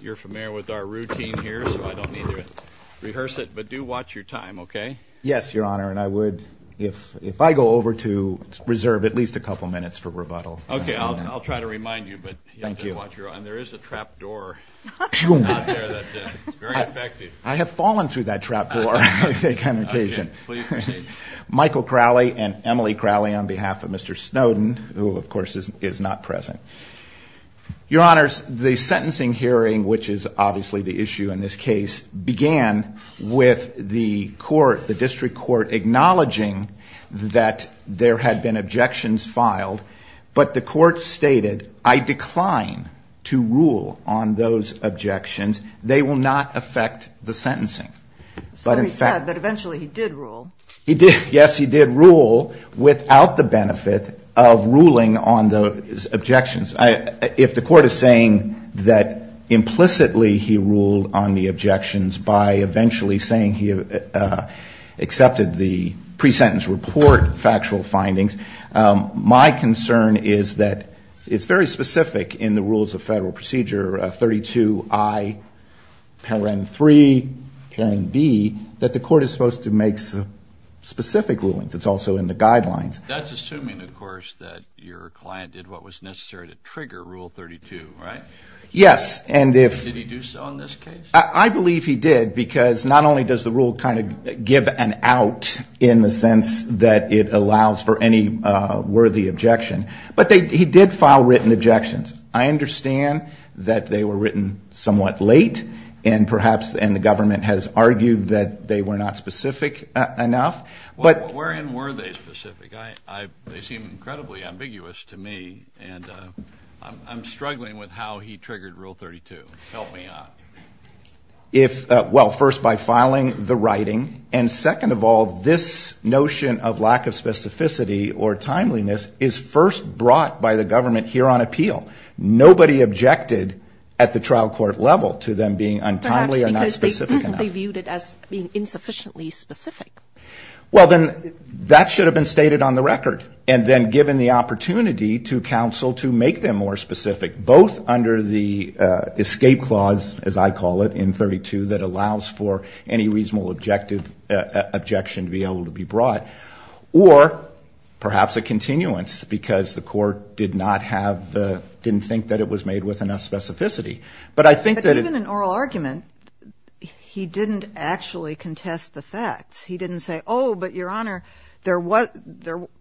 You're familiar with our routine here, so I don't need to rehearse it, but do watch your time, okay? Yes, Your Honor, and I would if I go over to reserve at least a couple minutes for rebuttal. Okay, I'll try to remind you, but you have to watch your time. Thank you. There is a trap door out there that's very effective. I have fallen through that trap door, I think, on occasion. Okay, please proceed. Michael Crowley and Emily Crowley on behalf of Mr. Snowden, who, of course, is not present. Your Honors, the sentencing hearing, which is obviously the issue in this case, began with the court, the district court, acknowledging that there had been objections filed, but the court stated, I decline to rule on those objections. They will not affect the sentencing. So he said that eventually he did rule. He did. Yes, he did rule without the benefit of ruling on the objections. If the court is saying that implicitly he ruled on the objections by eventually saying he accepted the pre-sentence report factual findings, my concern is that it's very specific in the rules of Federal Procedure 32I, Paragraph 3, Paragraph B, that the court is supposed to make specific rulings. It's also in the guidelines. That's assuming, of course, that your client did what was necessary to trigger Rule 32, right? Yes. Did he do so in this case? I believe he did because not only does the rule kind of give an out in the sense that it allows for any worthy objection, but he did file written objections. I understand that they were written somewhat late, and perhaps the government has argued that they were not specific enough. Wherein were they specific? They seem incredibly ambiguous to me, and I'm struggling with how he triggered Rule 32. Help me out. Well, first by filing the writing, and second of all, this notion of lack of specificity or timeliness is first brought by the government here on appeal. Nobody objected at the trial court level to them being untimely or not specific enough. Perhaps because they viewed it as being insufficiently specific. Well, then that should have been stated on the record and then given the opportunity to counsel to make them more specific, both under the escape clause, as I call it, in 32, that allows for any reasonable objection to be able to be brought, or perhaps a continuance because the court did not have the, didn't think that it was made with enough specificity. But I think that it. But even in oral argument, he didn't actually contest the facts. He didn't say, oh, but, Your Honor, there was,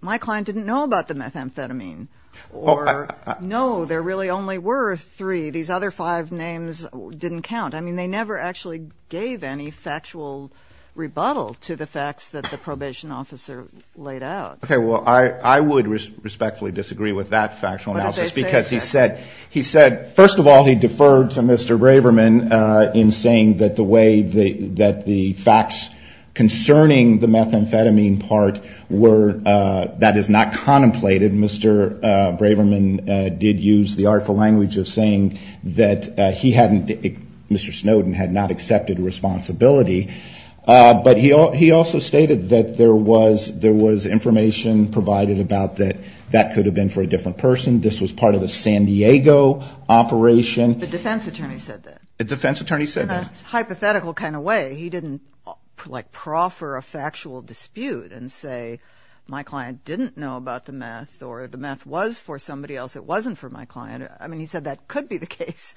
my client didn't know about the methamphetamine, or no, there really only were three. These other five names didn't count. I mean, they never actually gave any factual rebuttal to the facts that the probation officer laid out. Okay. Well, I would respectfully disagree with that factual analysis because he said, first of all, he deferred to Mr. Braverman in saying that the way that the facts concerning the methamphetamine part were, that is not contemplated. Mr. Braverman did use the artful language of saying that he hadn't, Mr. Snowden had not accepted responsibility. But he also stated that there was information provided about that that could have been for a different person. This was part of the San Diego operation. The defense attorney said that. The defense attorney said that. In a hypothetical kind of way, he didn't, like, proffer a factual dispute and say, my client didn't know about the meth or the meth was for somebody else. It wasn't for my client. I mean, he said that could be the case.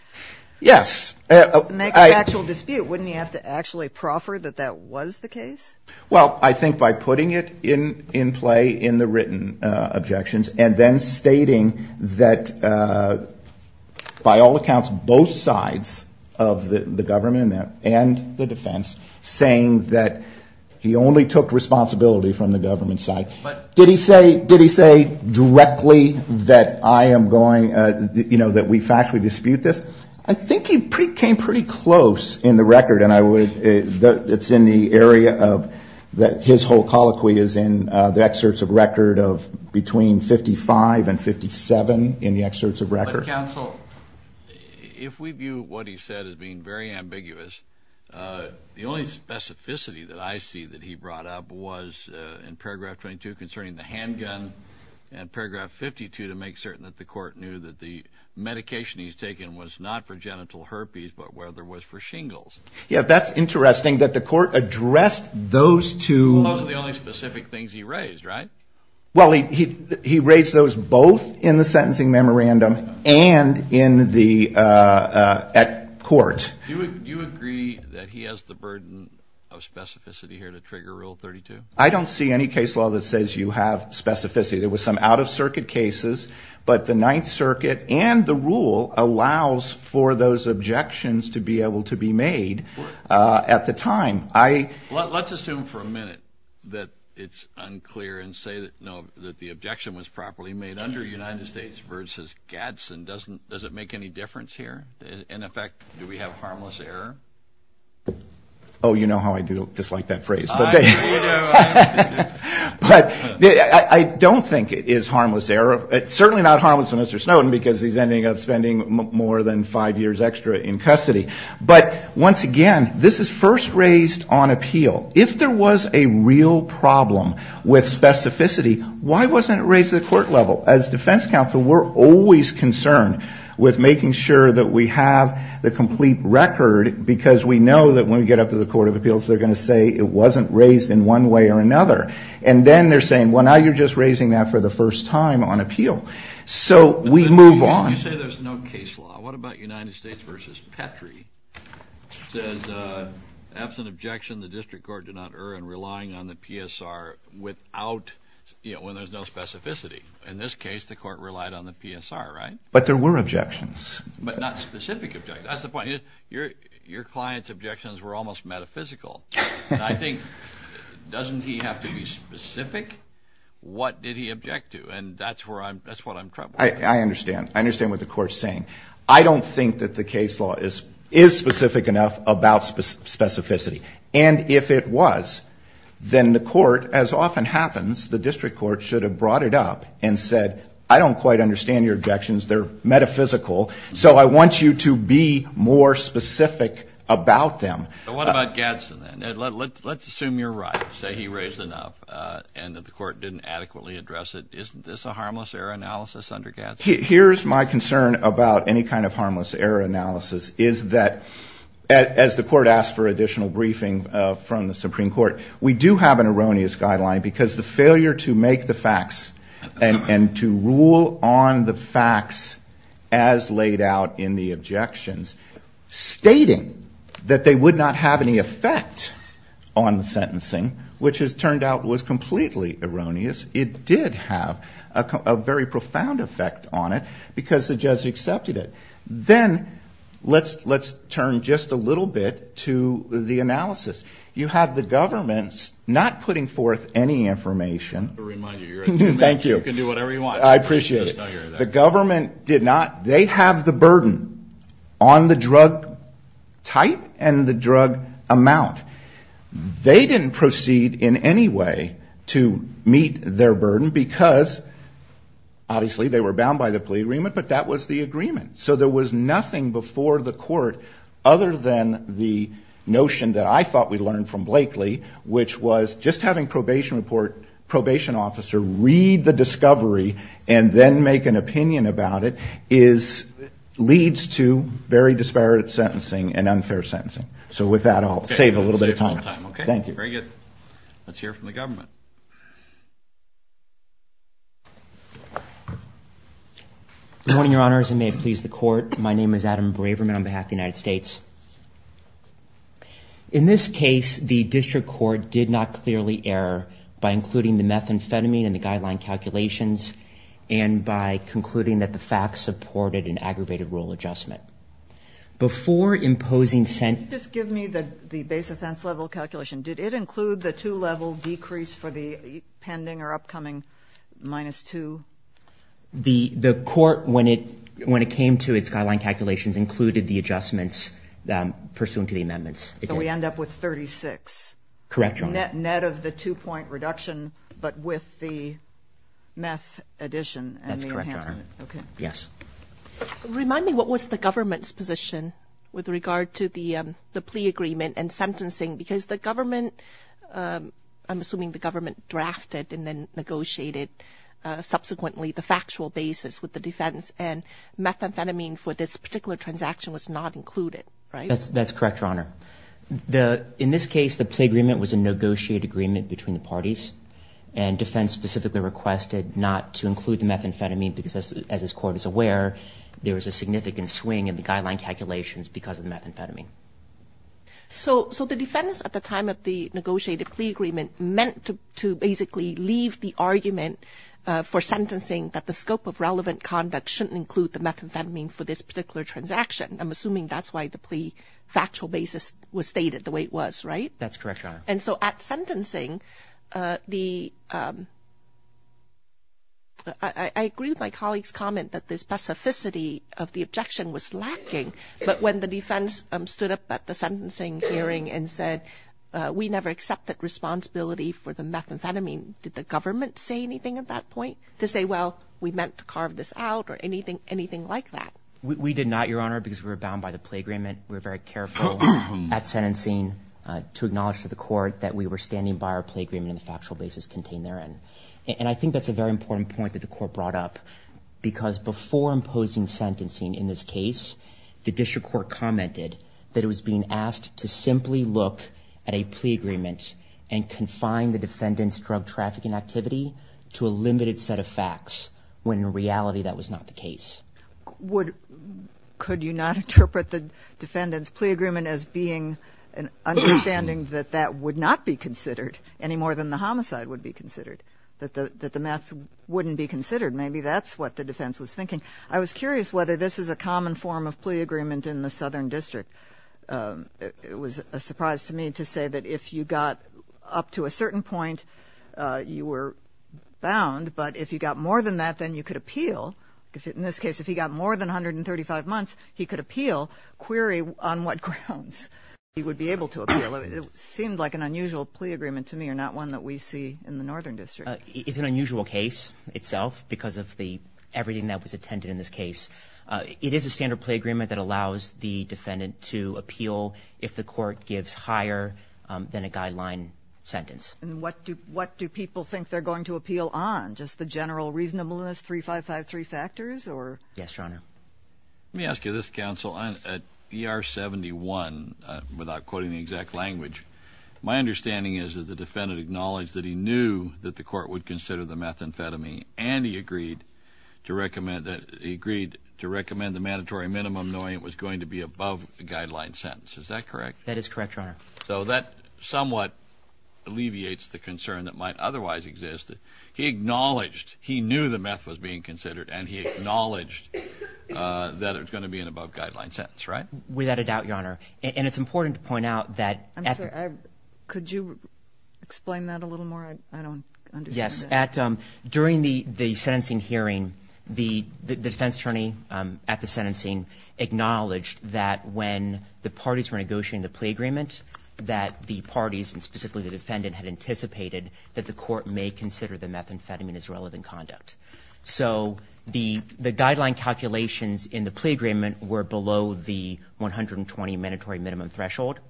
Yes. Make a factual dispute. Wouldn't he have to actually proffer that that was the case? Well, I think by putting it in play in the written objections and then stating that, by all accounts, both sides of the government and the defense saying that he only took responsibility from the government side. Did he say directly that I am going, you know, that we factually dispute this? I think he came pretty close in the record. It's in the area of his whole colloquy is in the excerpts of record of between 55 and 57 in the excerpts of record. But, counsel, if we view what he said as being very ambiguous, the only specificity that I see that he brought up was in paragraph 22 concerning the handgun and paragraph 52 to make certain that the court knew that the medication he's taken was not for genital herpes but rather was for shingles. Yeah, that's interesting that the court addressed those two. Those are the only specific things he raised, right? Well, he raised those both in the sentencing memorandum and in the court. Do you agree that he has the burden of specificity here to trigger Rule 32? I don't see any case law that says you have specificity. There were some out-of-circuit cases, but the Ninth Circuit and the rule allows for those objections to be able to be made at the time. Let's assume for a minute that it's unclear and say that the objection was properly made under United States versus Gadsden. Does it make any difference here? In effect, do we have harmless error? Oh, you know how I do dislike that phrase. But I don't think it is harmless error. It's certainly not harmless to Mr. Snowden because he's ending up spending more than five years extra in custody. But once again, this is first raised on appeal. If there was a real problem with specificity, why wasn't it raised at the court level? As defense counsel, we're always concerned with making sure that we have the complete record because we know that when we get up to the Court of Appeals, they're going to say it wasn't raised in one way or another. And then they're saying, well, now you're just raising that for the first time on appeal. So we move on. You say there's no case law. What about United States versus Petrie? It says, absent objection, the district court did not err in relying on the PSR when there's no specificity. In this case, the court relied on the PSR, right? But there were objections. But not specific objections. That's the point. Your client's objections were almost metaphysical. I think, doesn't he have to be specific? What did he object to? And that's where I'm, that's what I'm troubled with. I understand. I understand what the court's saying. I don't think that the case law is specific enough about specificity. And if it was, then the court, as often happens, the district court should have brought it up and said, I don't quite understand your objections. They're metaphysical. So I want you to be more specific about them. What about Gadsden? Let's assume you're right. Say he raised enough and that the court didn't adequately address it. Isn't this a harmless error analysis under Gadsden? Here's my concern about any kind of harmless error analysis is that, as the court asked for additional briefing from the Supreme Court, we do have an erroneous guideline because the failure to make the facts and to rule on the facts as laid out in the objections, stating that they would not have any effect on the sentencing, which has turned out was completely erroneous, it did have a very profound effect on it because the judge accepted it. Then let's turn just a little bit to the analysis. You have the government not putting forth any information. Thank you. You can do whatever you want. I appreciate it. The government did not. They have the burden on the drug type and the drug amount. They didn't proceed in any way to meet their burden because, obviously, they were bound by the plea agreement, but that was the agreement. So there was nothing before the court other than the notion that I thought we learned from Blakely, which was just having probation officer read the discovery and then make an opinion about it leads to very disparate sentencing and unfair sentencing. So with that, I'll save a little bit of time. Okay. Thank you. Very good. Let's hear from the government. Good morning, Your Honors, and may it please the court. My name is Adam Braverman on behalf of the United States. In this case, the district court did not clearly err by including the methamphetamine in the guideline calculations and by concluding that the facts supported an aggravated rule adjustment. Before imposing sentencing. Just give me the base offense level calculation. Did it include the two-level decrease for the pending or upcoming minus two? The court, when it came to its guideline calculations, included the adjustments pursuant to the amendments. So we end up with 36. Correct, Your Honor. Net of the two-point reduction, but with the meth addition and the enhancement. That's correct, Your Honor. Okay. Yes. Remind me, what was the government's position with regard to the plea agreement and sentencing? Because the government, I'm assuming the government drafted and then negotiated subsequently the factual basis with the defense and methamphetamine for this particular transaction was not included, right? That's correct, Your Honor. In this case, the plea agreement was a negotiated agreement between the parties and defense specifically requested not to include the methamphetamine because, as this court is aware, there was a significant swing in the guideline calculations because of the methamphetamine. So the defense at the time of the negotiated plea agreement meant to basically leave the argument for sentencing that the scope of relevant conduct shouldn't include the methamphetamine for this particular transaction. I'm assuming that's why the plea factual basis was stated the way it was, right? That's correct, Your Honor. And so at sentencing, I agree with my colleague's comment that the specificity of the objection was lacking, but when the defense stood up at the sentencing hearing and said, we never accepted responsibility for the methamphetamine, did the government say anything at that point to say, well, we meant to carve this out or anything like that? We did not, Your Honor, because we were bound by the plea agreement. We were very careful at sentencing to acknowledge to the court that we were standing by our plea agreement and the factual basis contained therein. And I think that's a very important point that the court brought up because before imposing sentencing in this case, the district court commented that it was being asked to simply look at a plea agreement and confine the defendant's drug trafficking activity to a limited set of facts when in reality that was not the case. Could you not interpret the defendant's plea agreement as being an understanding that that would not be considered any more than the homicide would be considered, that the meth wouldn't be considered? Maybe that's what the defense was thinking. I was curious whether this is a common form of plea agreement in the Southern District. It was a surprise to me to say that if you got up to a certain point, you were bound, but if you got more than that, then you could appeal. In this case, if he got more than 135 months, he could appeal. Query on what grounds he would be able to appeal. It seemed like an unusual plea agreement to me or not one that we see in the Northern District. It's an unusual case itself because of everything that was attended in this case. It is a standard plea agreement that allows the defendant to appeal if the court gives higher than a guideline sentence. What do people think they're going to appeal on? Just the general reasonableness, three, five, five, three factors? Yes, Your Honor. Let me ask you this, counsel. At ER 71, without quoting the exact language, my understanding is that the defendant acknowledged that he knew that the court would consider the methamphetamine and he agreed to recommend the mandatory minimum knowing it was going to be above the guideline sentence. Is that correct? That is correct, Your Honor. So that somewhat alleviates the concern that might otherwise exist. He acknowledged he knew the meth was being considered and he acknowledged that it was going to be an above-guideline sentence, right? Without a doubt, Your Honor. And it's important to point out that at the- I'm sorry. Could you explain that a little more? I don't understand that. Yes. During the sentencing hearing, the defense attorney at the sentencing acknowledged that when the parties were negotiating the plea agreement, that the parties, and specifically the defendant, had anticipated that the court may consider the methamphetamine as relevant conduct. So the guideline calculations in the plea agreement were below the 120 mandatory minimum threshold,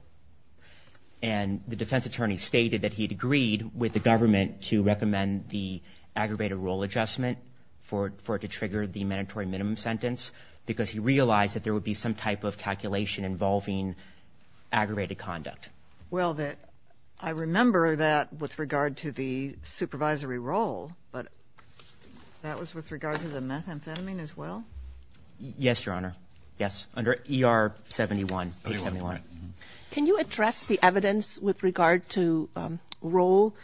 and the defense attorney stated that he'd agreed with the government to recommend the aggravated rule adjustment for it to trigger the mandatory minimum sentence because he realized that there would be some type of calculation involving aggravated conduct. Well, I remember that with regard to the supervisory role, but that was with regard to the methamphetamine as well? Yes, Your Honor. Yes, under ER 71, page 71. Can you address the evidence with regard to role,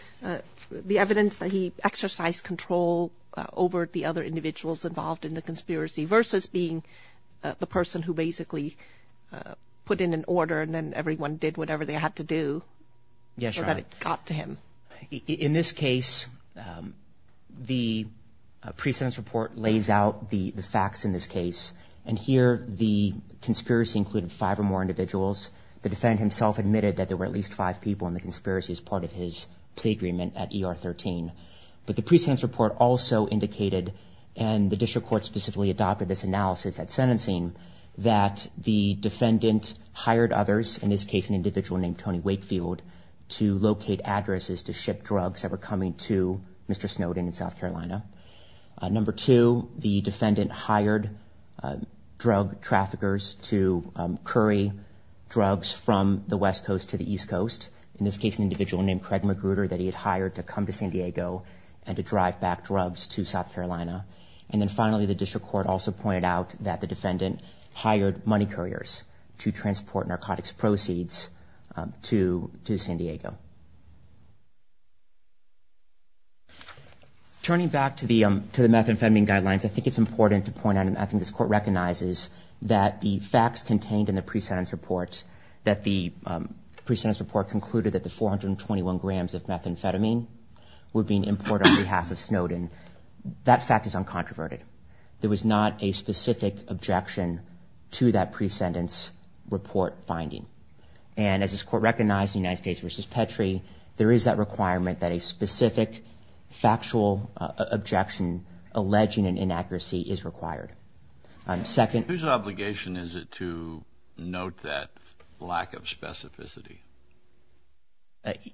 the evidence that he exercised control over the other individuals involved in the conspiracy versus being the person who basically put in an order and then everyone did whatever they had to do? Yes, Your Honor. So that it got to him? In this case, the pre-sentence report lays out the facts in this case, and here the conspiracy included five or more individuals. The defendant himself admitted that there were at least five people in the conspiracy as part of his plea agreement at ER 13. But the pre-sentence report also indicated, and the district court specifically adopted this analysis at sentencing, that the defendant hired others, in this case an individual named Tony Wakefield, to locate addresses to ship drugs that were coming to Mr. Snowden in South Carolina. Number two, the defendant hired drug traffickers to curry drugs from the West Coast to the East Coast, in this case an individual named Craig McGruder that he had hired to come to San Diego and to drive back drugs to South Carolina. And then finally, the district court also pointed out that the defendant hired money couriers to transport narcotics proceeds to San Diego. Turning back to the meth and fentanyl guidelines, I think it's important to point out, and I think this court recognizes, that the facts contained in the pre-sentence report, that the pre-sentence report concluded that the 421 grams of methamphetamine were being imported on behalf of Snowden, that fact is uncontroverted. There was not a specific objection to that pre-sentence report finding. And as this court recognized in the United States v. Petrie, there is that requirement that a specific factual objection alleging an inaccuracy is required. Whose obligation is it to note that lack of specificity?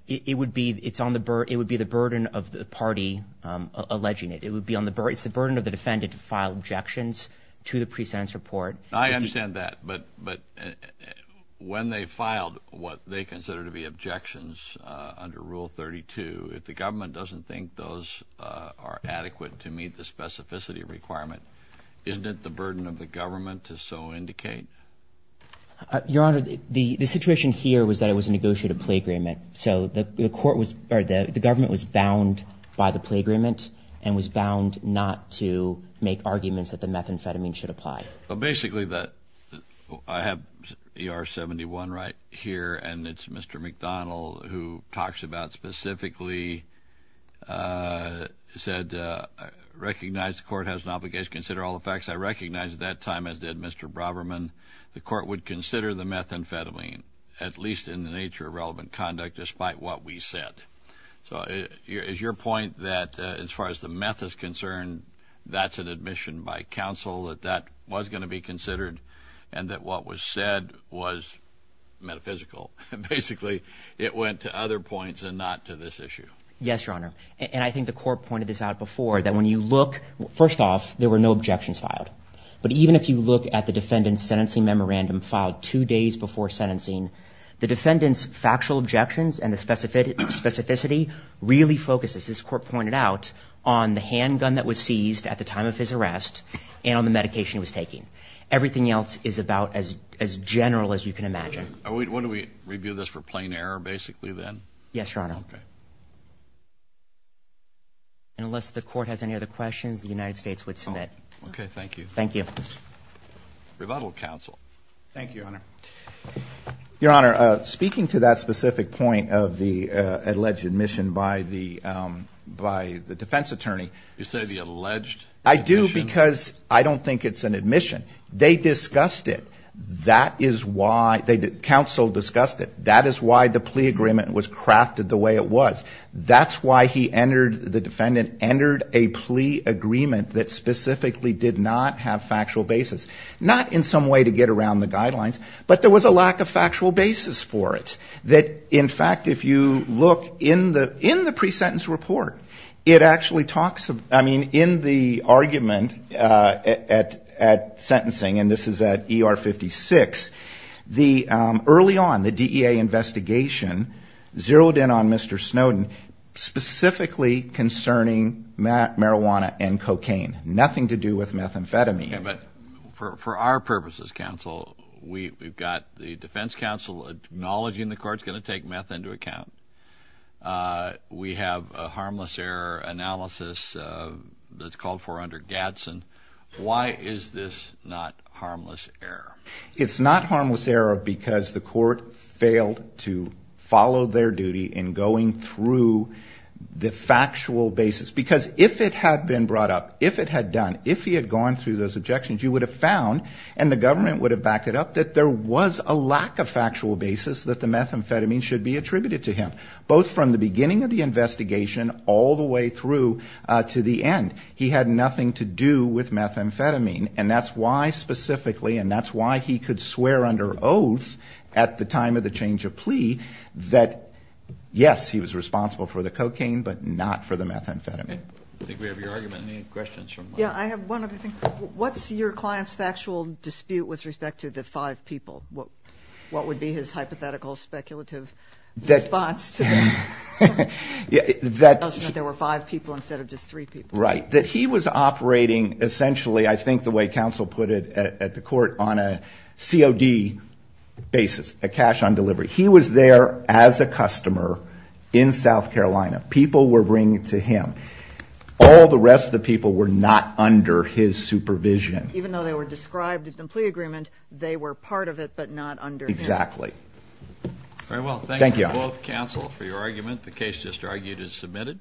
It would be the burden of the party alleging it. It's the burden of the defendant to file objections to the pre-sentence report. I understand that, but when they filed what they consider to be objections under Rule 32, if the government doesn't think those are adequate to meet the specificity requirement, isn't it the burden of the government to so indicate? Your Honor, the situation here was that it was a negotiated plea agreement, so the government was bound by the plea agreement and was bound not to make arguments that the methamphetamine should apply. Basically, I have ER 71 right here, and it's Mr. McDonald who talks about specifically, said, recognize the court has an obligation to consider all the facts. I recognize at that time, as did Mr. Braberman, the court would consider the methamphetamine, at least in the nature of relevant conduct, despite what we said. So is your point that as far as the meth is concerned, that's an admission by counsel, that that was going to be considered, and that what was said was metaphysical? Basically, it went to other points and not to this issue. Yes, Your Honor, and I think the court pointed this out before, that when you look, first off, there were no objections filed. But even if you look at the defendant's sentencing memorandum filed two days before sentencing, the defendant's factual objections and the specificity really focus, as this court pointed out, on the handgun that was seized at the time of his arrest and on the medication he was taking. Everything else is about as general as you can imagine. Would we review this for plain error, basically, then? Yes, Your Honor. Okay. And unless the court has any other questions, the United States would submit. Okay, thank you. Thank you. Rebuttal, counsel. Thank you, Your Honor. Your Honor, speaking to that specific point of the alleged admission by the defense attorney. You say the alleged admission? I do, because I don't think it's an admission. They discussed it. That is why the counsel discussed it. That is why the plea agreement was crafted the way it was. That's why the defendant entered a plea agreement that specifically did not have factual basis. Not in some way to get around the guidelines, but there was a lack of factual basis for it. That, in fact, if you look in the pre-sentence report, it actually talks of, I mean, in the argument at sentencing, and this is at ER 56, early on, the DEA investigation zeroed in on Mr. Snowden, specifically concerning marijuana and cocaine, nothing to do with methamphetamine. Okay, but for our purposes, counsel, we've got the defense counsel acknowledging the court's going to take meth into account. We have a harmless error analysis that's called for under Gadsden. Why is this not harmless error? It's not harmless error because the court failed to follow their duty in going through the factual basis, because if it had been brought up, if it had done, if he had gone through those objections, you would have found, and the government would have backed it up, that there was a lack of factual basis that the methamphetamine should be attributed to him, both from the beginning of the investigation all the way through to the end. He had nothing to do with methamphetamine, and that's why specifically, and that's why he could swear under oath at the time of the change of plea that, yes, he was responsible for the cocaine, but not for the methamphetamine. I think we have your argument. Any questions? Yeah, I have one other thing. What's your client's factual dispute with respect to the five people? What would be his hypothetical speculative response to the fact that there were five people instead of just three people? Right. That he was operating, essentially, I think the way counsel put it at the court, on a COD basis, a cash on delivery. He was there as a customer in South Carolina. People were bringing it to him. All the rest of the people were not under his supervision. Even though they were described in the plea agreement, they were part of it but not under him. Exactly. All right, well, thank you to both counsel for your argument. The case just argued is submitted.